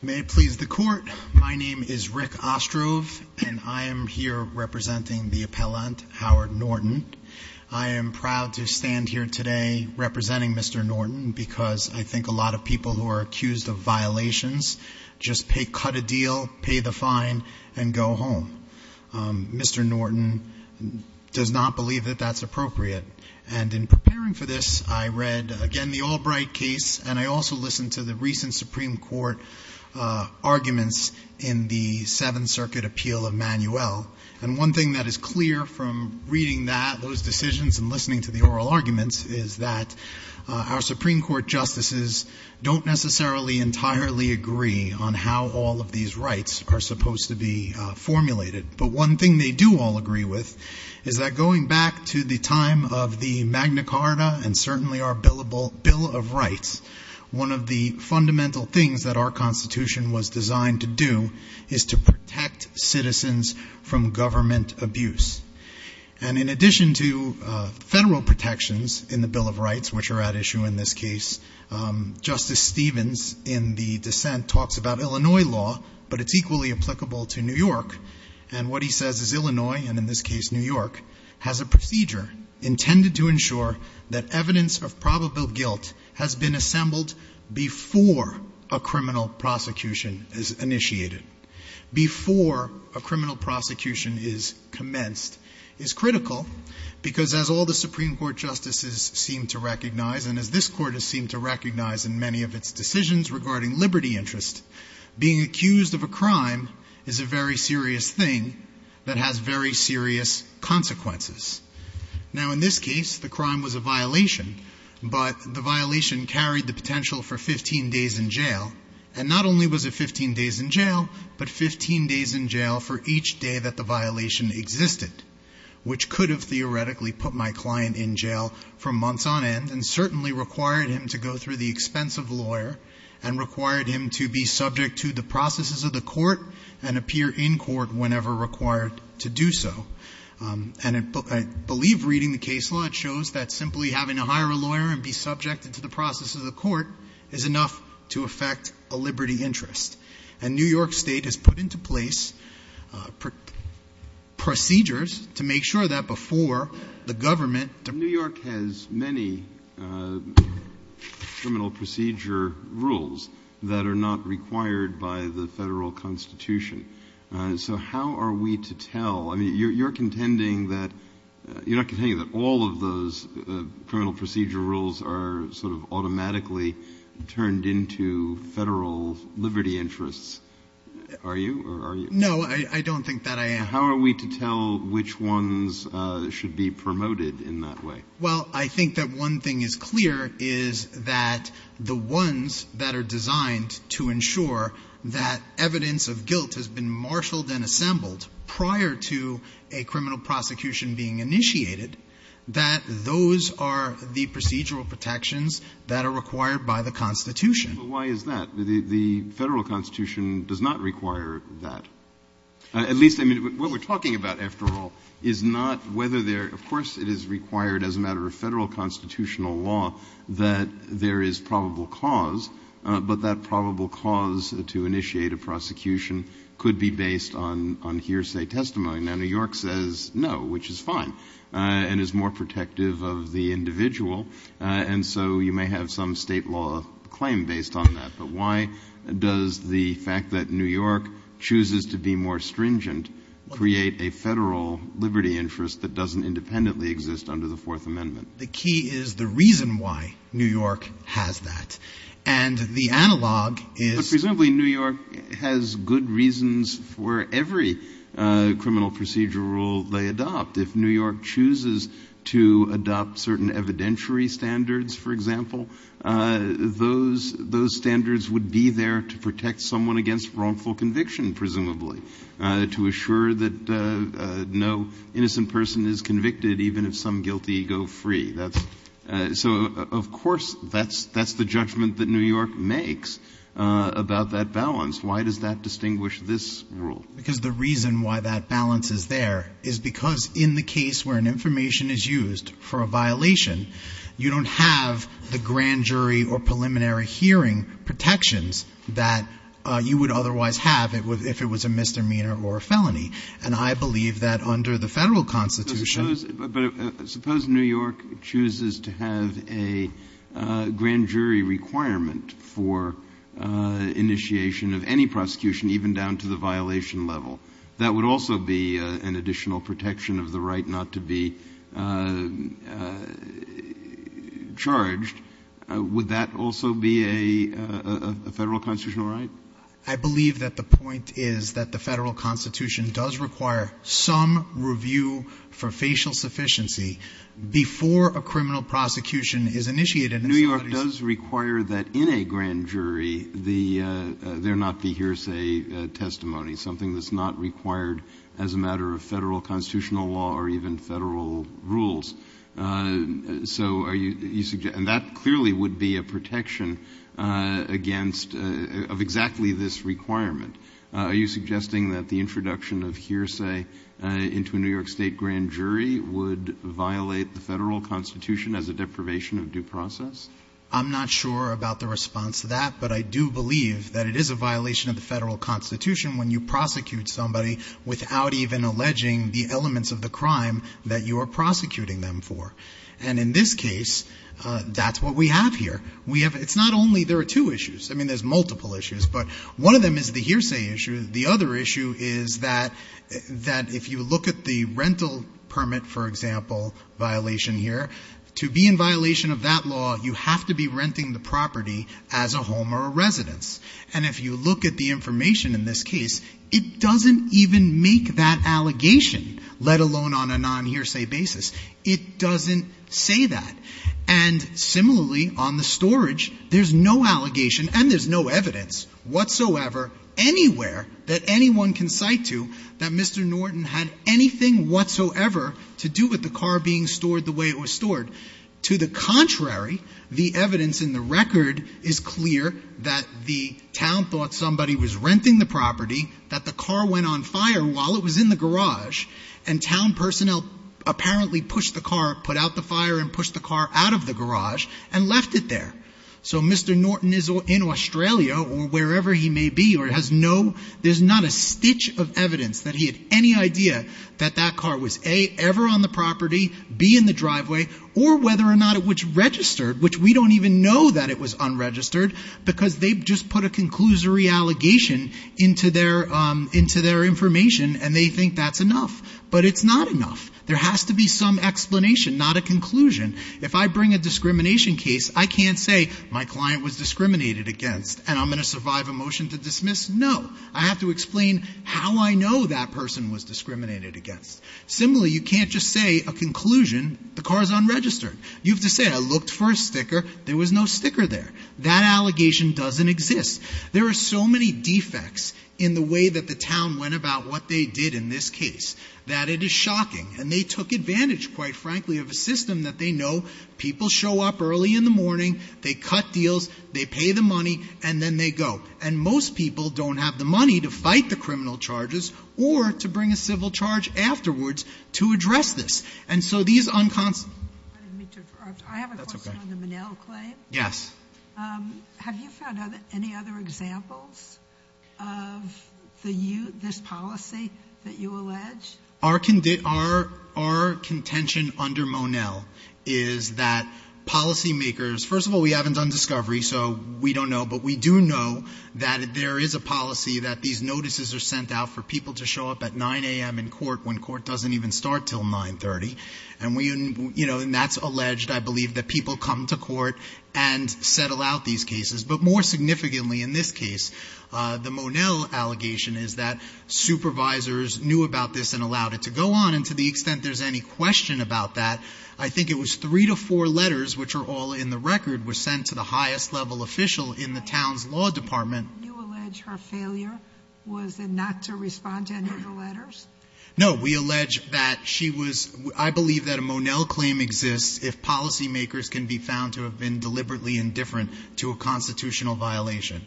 May it please the court, my name is Rick Ostrove and I am here representing the appellant Howard Norton. I am proud to stand here today representing Mr. Norton because I think a lot of people who are accused of violations just pay cut a deal, pay the fine, and go home. Mr. Norton does not believe that that's appropriate and in preparing for this I read again the Albright case and I also listened to the recent Supreme Court arguments in the Seventh Circuit appeal of Manuel and one thing that is clear from reading that those decisions and listening to the oral arguments is that our Supreme Court justices don't necessarily entirely agree on how all of these rights are supposed to be formulated but one thing they do all agree with is that going back to the time of the Magna Carta and certainly our bill of rights, one of the fundamental things that our Constitution was designed to do is to protect citizens from government abuse and in addition to federal protections in the Bill of Rights which are at issue in this case, Justice Stevens in the dissent talks about Illinois law but it's equally applicable to New York and what has a procedure intended to ensure that evidence of probable guilt has been assembled before a criminal prosecution is initiated, before a criminal prosecution is commenced is critical because as all the Supreme Court justices seem to recognize and as this court has seemed to recognize in many of its decisions regarding liberty interest, being accused of a crime is a very serious consequences. Now in this case the crime was a violation but the violation carried the potential for 15 days in jail and not only was it 15 days in jail but 15 days in jail for each day that the violation existed which could have theoretically put my client in jail for months on end and certainly required him to go through the expense of lawyer and required him to be subject to the And I believe reading the case law it shows that simply having to hire a lawyer and be subjected to the process of the court is enough to affect a liberty interest and New York State has put into place procedures to make sure that before the government... New York has many criminal procedure rules that are not required by the federal Constitution. So how are we to tell... I mean you're contending that... you're not contending that all of those criminal procedure rules are sort of automatically turned into federal liberty interests, are you? No I don't think that I am. How are we to tell which ones should be promoted in that way? Well I think that one thing is clear is that the ones that are designed to ensure that evidence of guilt has been marshaled and assembled prior to a criminal prosecution being initiated, that those are the procedural protections that are required by the Constitution. But why is that? The Federal Constitution does not require that. At least what we're talking about after all is not whether there... of course it is required as a matter of federal constitutional law that there is probable cause, but that probable cause to initiate a prosecution could be based on hearsay testimony. Now New York says no, which is fine and is more protective of the individual and so you may have some state law claim based on that. But why does the fact that New York chooses to be more stringent create a federal liberty interest that doesn't independently exist under the Fourth Amendment? The key is the reason why New York has that. And the analog is... Presumably New York has good reasons for every criminal procedural rule they adopt. If New York chooses to adopt certain evidentiary standards, for example, those standards would be there to protect someone against wrongful conviction, presumably, to assure that no innocent person is convicted even if some guilty go free. So of course that's the judgment that New York makes about that balance. Why does that distinguish this rule? Because the reason why that balance is there is because in the case where an information is used for a violation, you don't have the grand jury or preliminary hearing protections that you would otherwise have if it was a misdemeanor or a felony. And I believe that under the Federal Constitution... But suppose New York chooses to have a grand jury requirement for initiation of any prosecution even down to the violation level. That would also be an additional protection of the right not to be charged. Would that also be a federal violation? A federal constitutional right? I believe that the point is that the Federal Constitution does require some review for facial sufficiency before a criminal prosecution is initiated. New York does require that in a grand jury there not be hearsay testimony, something that's not required as a matter of Federal constitutional law or even Federal rules. So are you suggesting... And that clearly would be a protection against, of exactly this requirement. Are you suggesting that the introduction of hearsay into a New York State grand jury would violate the Federal Constitution as a deprivation of due process? I'm not sure about the response to that, but I do believe that it is a violation of the Federal Constitution when you prosecute somebody without even alleging the elements of the crime that you are prosecuting them for. And in this case, that's what we have here. We have... It's not only... There are two issues. I mean, there's multiple issues, but one of them is the hearsay issue. The other issue is that if you look at the rental permit, for example, violation here, to be in violation of that law, you have to be renting the property as a home or a residence. And if you look at the information in this case, it doesn't even make that allegation, let alone on a non-hearsay basis. It doesn't say that. And similarly, on the storage, there's no allegation and there's no evidence whatsoever anywhere that anyone can cite to that Mr. Norton had anything whatsoever to do with the car being stored the way it was stored. To the contrary, the evidence in the record is clear that the town thought somebody was renting the property, that the car went on fire while it was in the garage, and town personnel apparently pushed the car, put out the fire and pushed the car out of the garage and left it there. So Mr. Norton is in Australia or wherever he may be or has no... There's not a stitch of evidence that he had any idea that that car was, A, ever on the property, B, in the driveway, or whether or not it was registered, which we don't even know that it was unregistered because they just put a conclusory allegation into their information and they think that's enough. But it's not enough. There has to be some explanation, not a conclusion. If I bring a discrimination case, I can't say my client was discriminated against and I'm going to survive a motion to dismiss. No. I have to explain how I know that person was discriminated against. Similarly, you can't just say a conclusion, the car is unregistered. You have to say I looked for a sticker, there was no sticker there. That allegation doesn't exist. There are so many defects in the way that the town went about what they did in this case that it is shocking. And they took advantage, quite frankly, of a system that they know people show up early in the morning, they cut deals, they pay the money, and then they go. And most people don't have the money to fight the criminal charges or to bring a civil charge afterwards to address this. And so these unconstitutional I didn't mean to interrupt. That's okay. I have a question on the Monell claim. Yes. Have you found any other examples of this policy that you allege? Our contention under Monell is that policymakers, first of all, we haven't done discovery, so we don't know, but we do know that there is a policy that these notices are sent out for people to show up at 9 a.m. in court when court doesn't even start until 9.30. And that's alleged. I believe that people come to court and settle out these cases. But more significantly in this case, the Monell allegation is that supervisors knew about this and allowed it to go on. And to the extent there's any question about that, I think it was three to four letters, which are all in the record, were sent to the highest level official in the town's law department. You allege her failure was not to respond to any of the letters? No. We allege that she was I believe that a Monell claim exists if policymakers can be found to have been deliberately indifferent to a constitutional violation.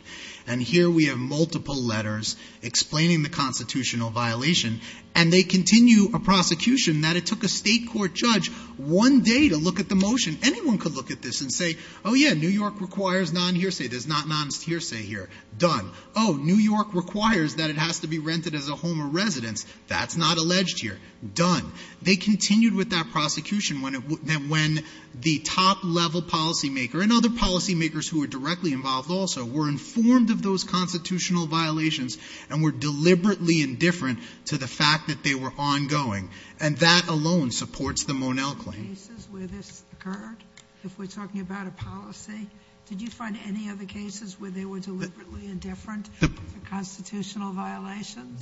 And here we have multiple letters explaining the constitutional violation, and they continue a prosecution that it took a state court judge one day to look at the motion. Anyone could look at this and say, oh, yeah, New York requires non-hearsay. There's not a non-hearsay here. Done. Oh, New York requires that it has to be rented as a home or residence. That's not alleged here. Done. They continued with that prosecution when the top-level policymaker and other policymakers who were directly involved also were informed of those constitutional violations and were deliberately indifferent to the fact that they were ongoing. And that alone supports the Monell claim. Did you find any other cases where this occurred, if we're talking about a policy? Did you find any other cases where they were deliberately indifferent to constitutional violations?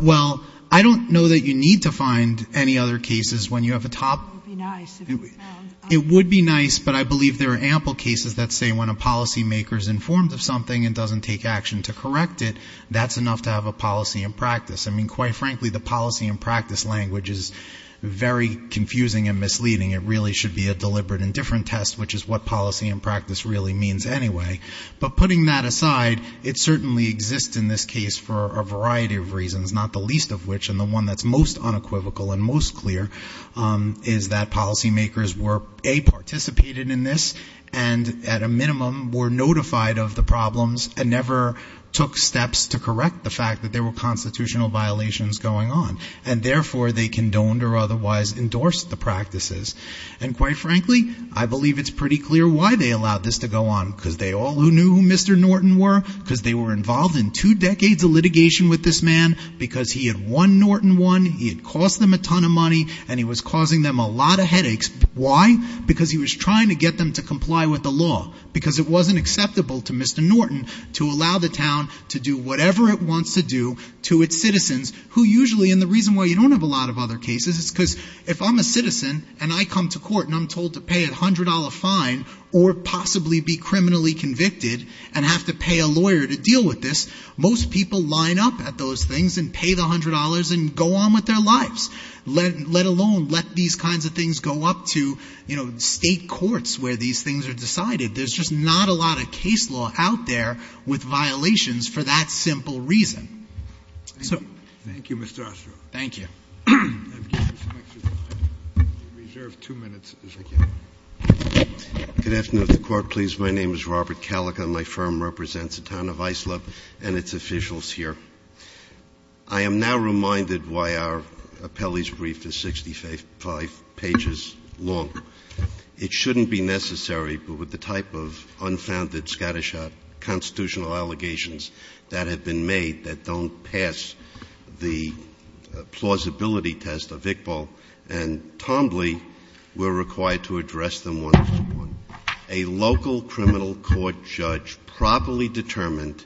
Well, I don't know that you need to find any other cases when you have a top It would be nice, but I believe there are ample cases that say when a policymaker is informed of something and doesn't take action to correct it, that's enough to have a policy in practice. I mean, quite frankly, the policy in practice language is very confusing and misleading. It really should be a deliberate indifferent test, which is what policy in practice really means anyway. But putting that aside, it certainly exists in this case for a variety of reasons, not the least of which, and the one that's most unequivocal and most clear is that policymakers were A, participated in this and at a minimum were notified of the problems and never took steps to correct the fact that there were constitutional violations going on, and therefore they condoned or otherwise endorsed the practices. And quite frankly, I believe it's pretty clear why they allowed this to go on, because they all who knew who Mr. Norton were, because they were involved in two decades of litigation with this man, because he had won Norton one, he had cost them a ton of money, and he was causing them a lot of headaches. Why? Because he was trying to get them to comply with the law, because it wasn't acceptable to Mr. Norton to allow the town to do whatever it wants to do to its citizens, who usually, and the reason why you don't have a lot of other cases is because if I'm a citizen and I come to court and I'm told to pay a $100 fine or possibly be criminally convicted and have to pay a lawyer to deal with this, most people line up at those things and pay the $100 and go on with their lives, let alone let these kinds of things go up to, you know, state courts where these things are decided. There's just not a lot of case law out there with violations for that simple reason. So thank you, Mr. Ostroff. Thank you. I reserve two minutes. Thank you. Good afternoon, Mr. Court, please. My name is Robert Kalik, and my firm represents the town of Islip and its officials here. I am now reminded why our appellee's brief is 65 pages long. It shouldn't be necessary, but with the type of unfounded scattershot constitutional allegations that have been made that don't pass the plausibility test of Iqbal and Tombley, we're required to address them on this Court. A local criminal court judge properly determined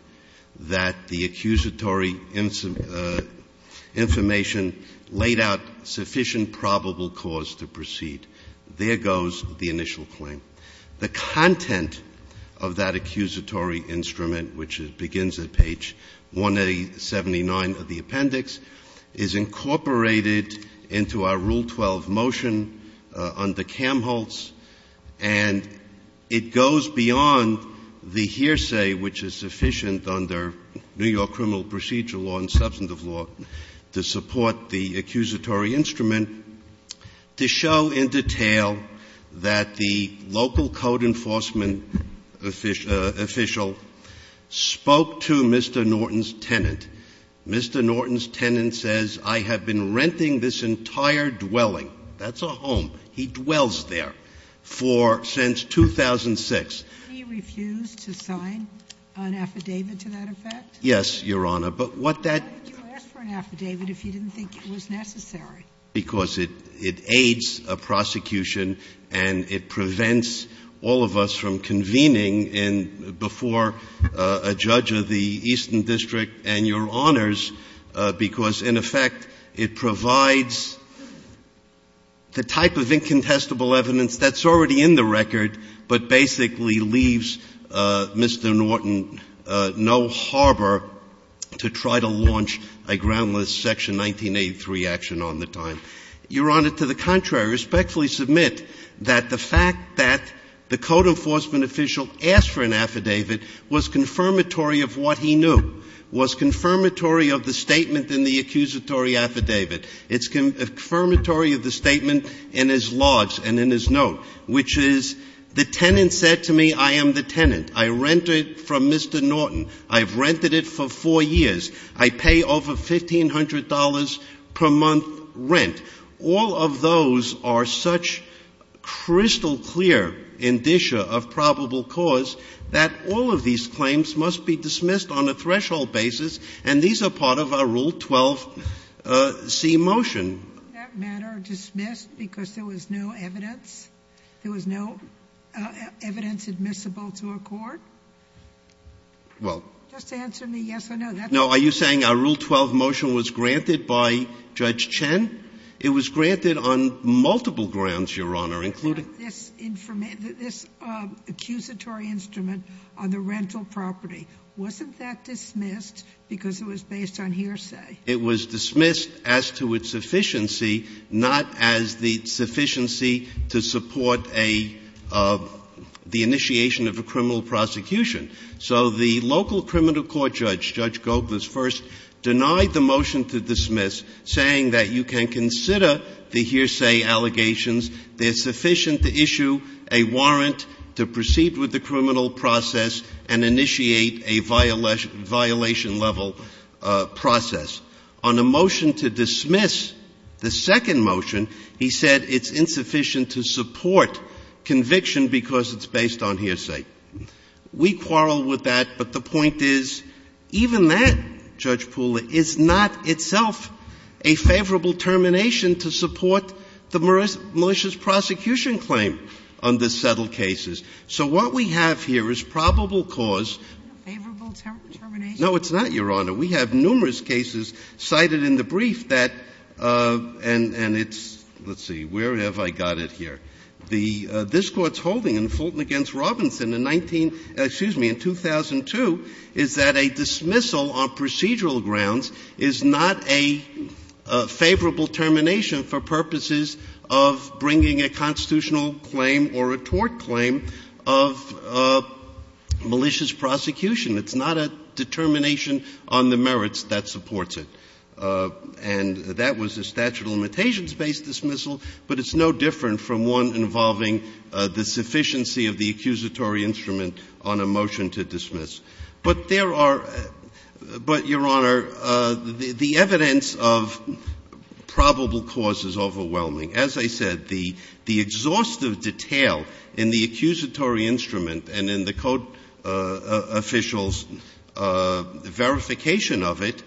that the accusatory information laid out sufficient probable cause to proceed. There goes the initial claim. The content of that accusatory instrument, which begins at page 179 of the appendix, is incorporated into our Rule 12 motion under Kamholtz, and it goes beyond the hearsay which is sufficient under New York criminal procedure law and substantive law to support the accusatory instrument, to show in detail that the local code enforcement official spoke to Mr. Norton's tenant. Mr. Norton's tenant says, I have been renting this entire dwelling. That's a home. He dwells there for — since 2006. He refused to sign an affidavit to that effect? Yes, Your Honor, but what that — Why would you ask for an affidavit if you didn't think it was necessary? Because it aids a prosecution and it prevents all of us from convening before a judge of the Eastern District and Your Honors, because in effect it provides the type of incontestable evidence that's already in the record, but basically leaves Mr. Norton no harbor to try to launch a groundless Section 1983 action on the time. Your Honor, to the contrary, I respectfully submit that the fact that the code enforcement official asked for an affidavit was confirmatory of what he knew, was confirmatory of the statement in the accusatory affidavit. It's confirmatory of the statement in his logs and in his note, which is the tenant said to me, I am the tenant. I rented from Mr. Norton. I've rented it for four years. I pay over $1,500 per month rent. All of those are such crystal clear indicia of probable cause that all of these claims must be dismissed on a threshold basis, and these are part of our Rule 12c motion. That matter dismissed because there was no evidence? There was no evidence admissible to a court? Well, just answer me yes or no. No, are you saying a Rule 12 motion was granted by Judge Chen? It was granted on multiple grounds, Your Honor, including this accusatory instrument on the rental property. Wasn't that dismissed because it was based on hearsay? It was dismissed as to its sufficiency, not as the sufficiency to support the initiation of a criminal prosecution. So the local criminal court judge, Judge Gogles first, denied the motion to dismiss, saying that you can consider the hearsay allegations. They're sufficient to issue a warrant to proceed with the criminal process and initiate a violation-level process. On the motion to dismiss, the second motion, he said it's insufficient to support conviction because it's based on hearsay. We quarrel with that, but the point is even that, Judge Pooler, is not itself a favorable termination to support the malicious prosecution claim under settled cases. So what we have here is probable cause. Is it a favorable termination? No, it's not, Your Honor. We have numerous cases cited in the brief that, and it's, let's see, where have I got it here? The, this court's holding in Fulton against Robinson in 19, excuse me, in 2002 is that a dismissal on procedural grounds is not a favorable termination for purposes of bringing a constitutional claim or a tort claim of malicious prosecution. It's not a determination on the merits that supports it. And that was a statute of limitations-based dismissal, but it's no different from one involving the sufficiency of the accusatory instrument on a motion to dismiss. But there are, but Your Honor, the evidence of probable cause is overwhelming. As I said, the exhaustive detail in the accusatory instrument and in the code official's verification of it,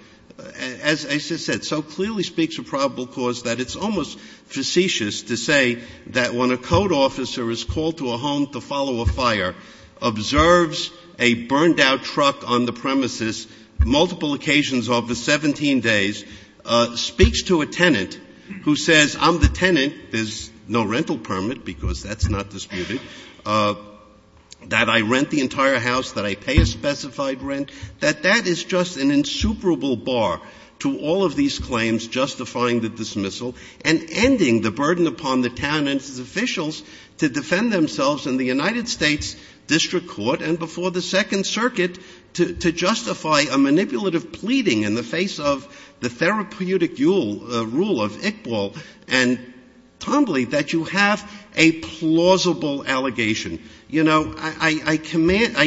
as I said, so clearly speaks of probable cause that it's almost facetious to say that when a code officer is called to a home to follow a fire, observes a burned out truck on the premises multiple occasions over 17 days, speaks to a tenant who says, I'm the tenant, there's no rental permit, because that's not disputed, that I rent the entire house, that I pay a specified rent, that that is just an insuperable bar to all of these claims justifying the dismissal and ending the burden upon the town and its officials to defend themselves in the United States District Court and before the Second Circuit to justify a manipulative pleading in the face of the therapeutic rule of Iqbal and Tomley, that you have a plausible allegation. You know, I recommend,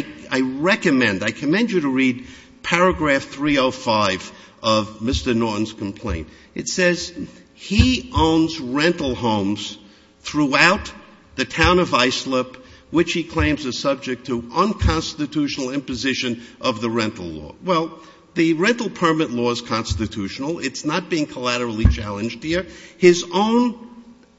I commend you to read paragraph 305 of Mr. Norton's complaint. It says, he owns rental homes throughout the town of Islip, which he claims is subject to unconstitutional imposition of the rental law. Well, the rental permit law is constitutional. It's not being collaterally challenged here. His own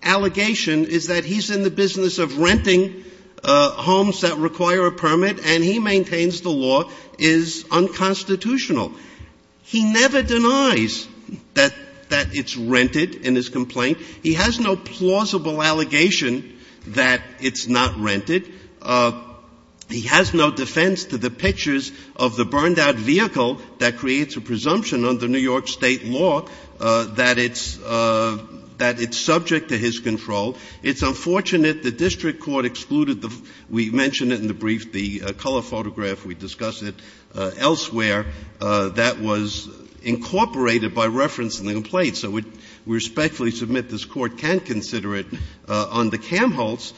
allegation is that he's in the business of renting homes that require a permit, and he maintains the law is unconstitutional. He never denies that it's rented in his complaint. He has no plausible allegation that it's not rented. He has no defense to the pictures of the burned-out vehicle that creates a presumption under New York State law that it's subject to his control. It's unfortunate the district court excluded the we mentioned it in the brief, the color photograph, we discussed it elsewhere, that was incorporated by reference in the complaint. So we respectfully submit this Court can't consider it on the Kamholtz,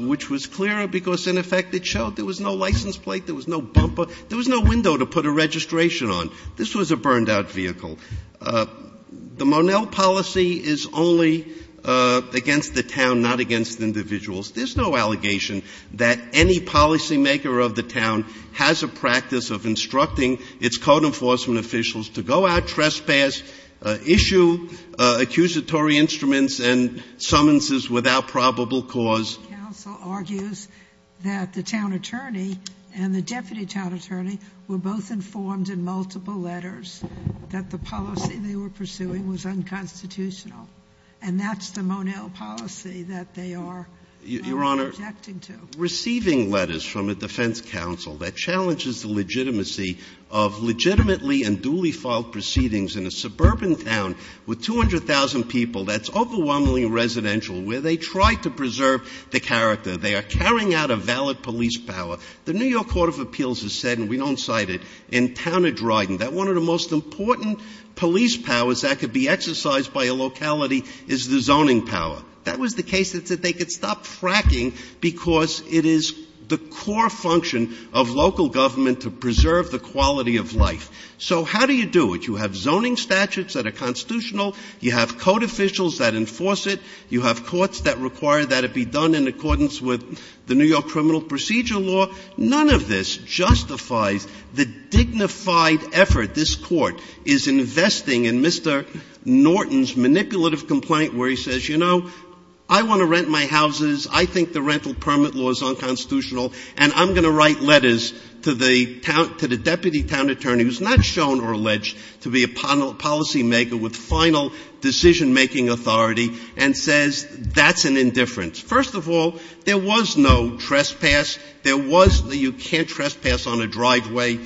which was clearer because, in effect, it showed there was no license plate, there was no bumper, there was no window to put a registration on. This was a burned-out vehicle. The Monell policy is only against the town, not against individuals. There's no allegation that any policymaker of the town has a practice of instructing its code enforcement officials to go out, trespass, issue accusatory instruments, and summonses without probable cause. The defense counsel argues that the town attorney and the deputy town attorney were both informed in multiple letters that the policy they were pursuing was unconstitutional, and that's the Monell policy that they are objecting to. Your Honor, receiving letters from a defense counsel that challenges the legitimacy of legitimately and duly filed proceedings in a suburban town with 200,000 people that's overwhelmingly residential, where they try to preserve the character, they are carrying out a valid police power, the New York Court of Appeals has said, and we don't cite it, in Town of Dryden that one of the most important police powers that could be exercised by a locality is the zoning power. That was the case that said they could stop fracking because it is the core function of local government to preserve the quality of life. So how do you do it? You have zoning statutes that are constitutional. You have code officials that enforce it. You have courts that require that it be done in accordance with the New York criminal procedure law. None of this justifies the dignified effort this Court is investing in Mr. Norton's manipulative complaint where he says, you know, I want to rent my houses, I think the rental permit law is unconstitutional, and I'm going to write letters to the deputy town attorney who is not shown or alleged to be a policymaker with final decision-making authority, and says that's an indifference. First of all, there was no trespass, there was no you can't trespass on a driveway,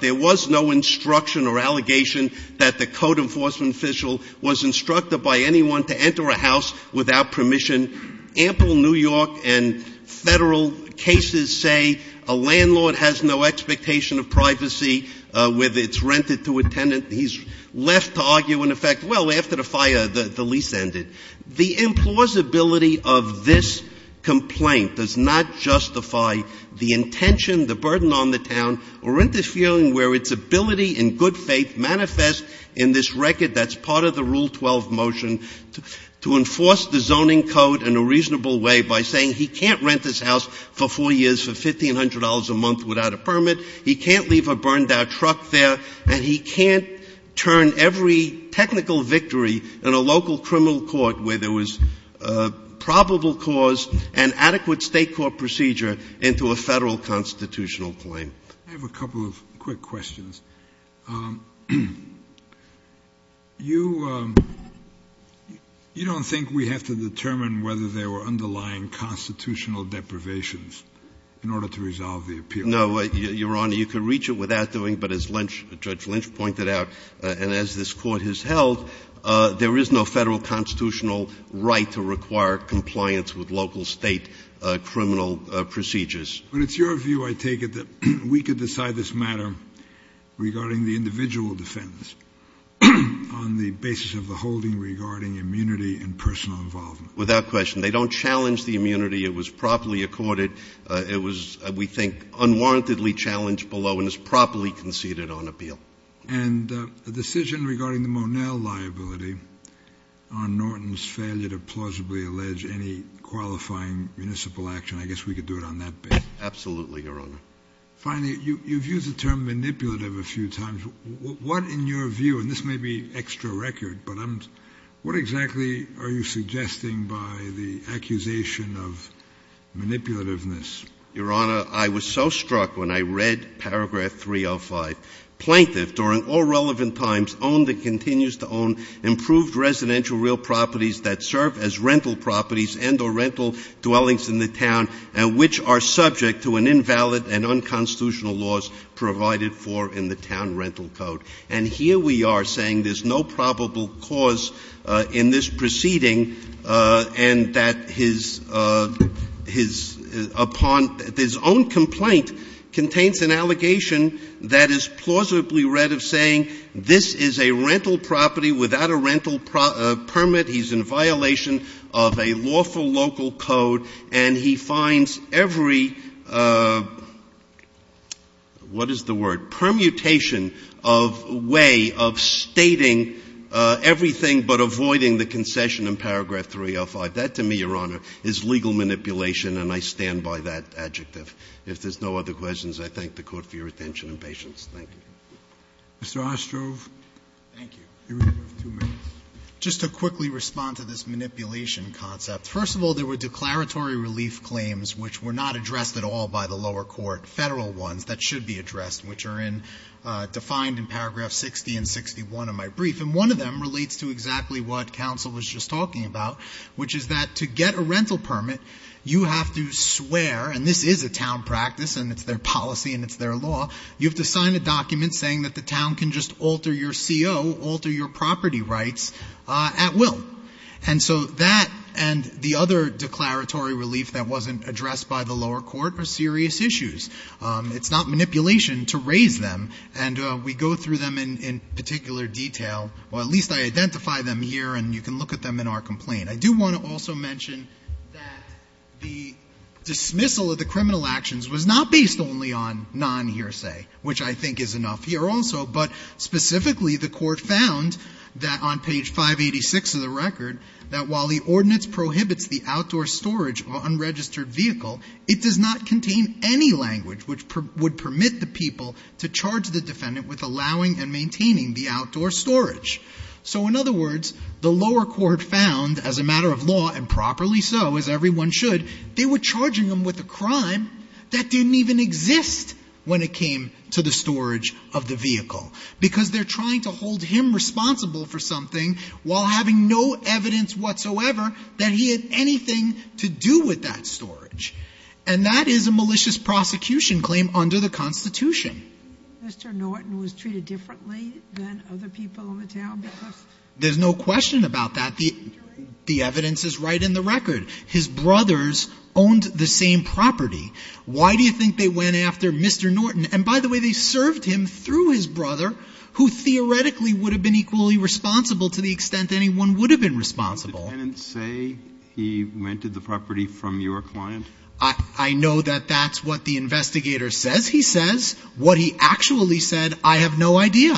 there was no instruction or allegation that the code enforcement official was instructing by anyone to enter a house without permission. Ample New York and Federal cases say a landlord has no expectation of privacy with its rent to a tenant, he's left to argue and in effect, well, after the fire, the lease ended. The implausibility of this complaint does not justify the intention, the burden on the town, or interfering where its ability and good faith manifest in this record that's part of the Rule 12 motion to enforce the zoning code in a reasonable way by saying he can't rent this house for 4 years for $1,500 a month without a permit, he can't leave a burned-out truck there, and he can't turn every technical victory in a local criminal court where there was probable cause and adequate State court procedure into a Federal constitutional claim. I have a couple of quick questions. You don't think we have to determine whether there were underlying constitutional deprivations in order to resolve the appeal? No, Your Honor, you can reach it without doing, but as Judge Lynch pointed out, and as this Court has held, there is no Federal constitutional right to require compliance with local State criminal procedures. But it's your view, I take it, that we could decide this matter regarding the individual defense on the basis of the holding regarding immunity and personal involvement? Without question. They don't challenge the immunity. It was properly accorded. It was, we think, unwarrantedly challenged below and is properly conceded on appeal. And the decision regarding the Monel liability on Norton's failure to plausibly allege any qualifying municipal action, I guess we could do it on that basis. Absolutely, Your Honor. Finally, you've used the term manipulative a few times. What, in your view, and this may be extra record, but what exactly are you suggesting by the accusation of manipulativeness? Your Honor, I was so struck when I read paragraph 305, Plaintiff, during all relevant times, owned and continues to own improved residential real properties that serve as rental properties and or rental dwellings in the town and which are subject to an invalid and unconstitutional laws provided for in the town rental code. And here we are saying there's no probable cause in this proceeding and that his, upon his own complaint, contains an allegation that is plausibly read of saying, this is a rental property without a rental permit. He's in violation of a lawful local code, and he finds every, what is the word? Permutation of way of stating everything but avoiding the concession in paragraph 305. That, to me, Your Honor, is legal manipulation, and I stand by that adjective. If there's no other questions, I thank the Court for your attention and patience. Thank you. Mr. Ostrov. Thank you. You have two minutes. Just to quickly respond to this manipulation concept, first of all, there were declaratory relief claims which were not addressed at all by the lower court, Federal ones that should be addressed, which are in, defined in paragraph 60 and 61 of my brief, and one of them relates to exactly what counsel was just talking about, which is that to get a rental permit, you have to swear, and this is a town practice, and it's their policy and it's their law, you have to sign a document saying that the town can just alter your CO, alter your property rights at will. And so that and the other declaratory relief that wasn't addressed by the lower court are serious issues. It's not manipulation to raise them, and we go through them in particular detail, or at least I identify them here, and you can look at them in our complaint. I do want to also mention that the dismissal of the criminal actions was not based only on non-hearsay, which I think is enough here also, but specifically the court found that on page 586 of the record that while the ordinance prohibits the outdoor storage of unregistered vehicle, it does not contain any language which would permit the people to charge the defendant with allowing and maintaining the outdoor storage. So in other words, the lower court found, as a matter of law and properly so, as a matter of fact, they didn't exist when it came to the storage of the vehicle, because they're trying to hold him responsible for something while having no evidence whatsoever that he had anything to do with that storage. And that is a malicious prosecution claim under the Constitution. Mr. Norton was treated differently than other people in the town? There's no question about that. The evidence is right in the record. His brothers owned the same property. Why do you think they went after Mr. Norton? And by the way, they served him through his brother, who theoretically would have been equally responsible to the extent anyone would have been responsible. Did the tenants say he rented the property from your client? I know that that's what the investigator says he says. What he actually said, I have no idea,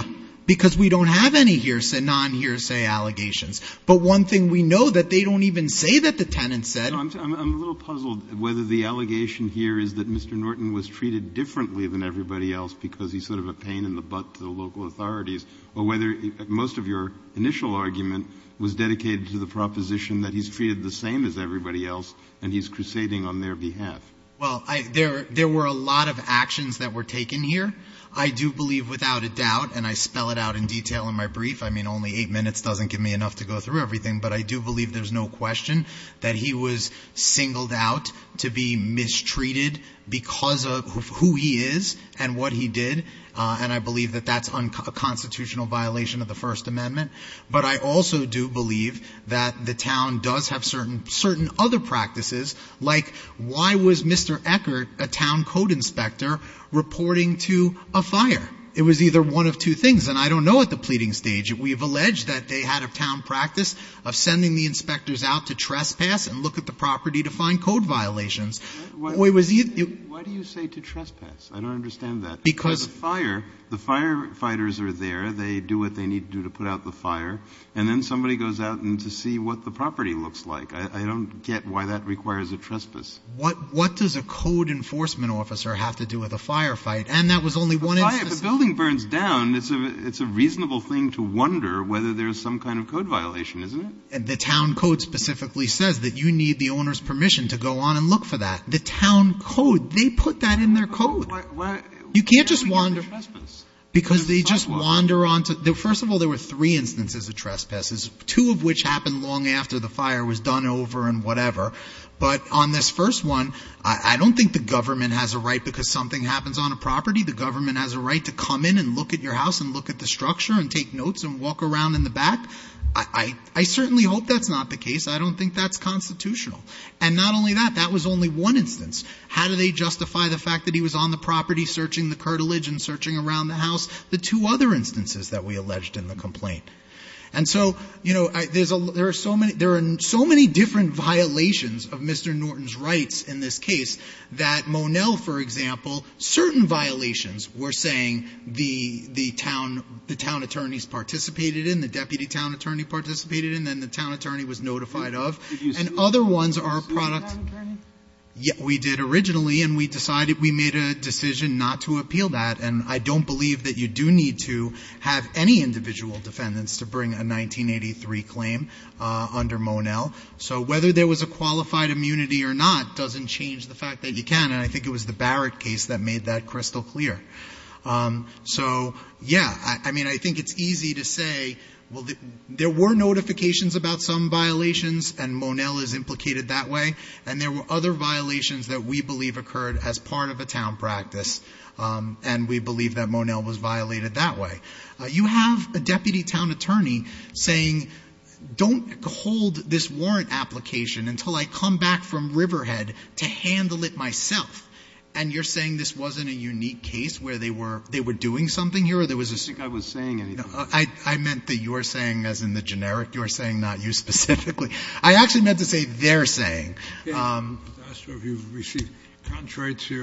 because we don't have any non-hearsay allegations. But one thing we know, that they don't even say that the tenants said. I'm a little puzzled whether the allegation here is that Mr. Norton was treated differently than everybody else because he's sort of a pain in the butt to the local authorities, or whether most of your initial argument was dedicated to the proposition that he's treated the same as everybody else. And he's crusading on their behalf. Well, there were a lot of actions that were taken here. I do believe without a doubt, and I spell it out in detail in my brief. I mean, only eight minutes doesn't give me enough to go through everything. But I do believe there's no question that he was singled out to be mistreated because of who he is and what he did. And I believe that that's a constitutional violation of the First Amendment. But I also do believe that the town does have certain other practices, like why was Mr. Eckert, a town code inspector, reporting to a fire? It was either one of two things, and I don't know at the pleading stage. We have alleged that they had a town practice of sending the inspectors out to trespass and look at the property to find code violations. Why do you say to trespass? I don't understand that. Because the fire, the firefighters are there. They do what they need to do to put out the fire. And then somebody goes out to see what the property looks like. I don't get why that requires a trespass. What does a code enforcement officer have to do with a firefight? And that was only one instance. When a building burns down, it's a reasonable thing to wonder whether there's some kind of code violation, isn't it? And the town code specifically says that you need the owner's permission to go on and look for that. The town code, they put that in their code. You can't just wander. Because they just wander on to, first of all, there were three instances of trespasses, two of which happened long after the fire was done over and whatever. But on this first one, I don't think the government has a right because something happens on a property. The government has a right to come in and look at your house and look at the structure and take notes and walk around in the back. I certainly hope that's not the case. I don't think that's constitutional. And not only that, that was only one instance. How do they justify the fact that he was on the property searching the curtilage and searching around the house? The two other instances that we alleged in the complaint. And so there are so many different violations of Mr. Norton's rights in this case, that Monell, for example, certain violations were saying the town attorneys participated in, the deputy town attorney participated in, and then the town attorney was notified of. And other ones are a product. We did originally, and we decided we made a decision not to appeal that. And I don't believe that you do need to have any individual defendants to bring a 1983 claim under Monell. So whether there was a qualified immunity or not doesn't change the fact that you can. And I think it was the Barrett case that made that crystal clear. So, yeah, I mean, I think it's easy to say, well, there were notifications about some violations and Monell is implicated that way. And there were other violations that we believe occurred as part of a town practice. And we believe that Monell was violated that way. You have a deputy town attorney saying, don't hold this warrant application until I come back from Riverhead to handle it myself. And you're saying this wasn't a unique case where they were doing something here or there was a... I don't think I was saying anything. I meant that you were saying, as in the generic, you were saying, not you specifically. I actually meant to say they're saying. I was asking if you've received contracts here.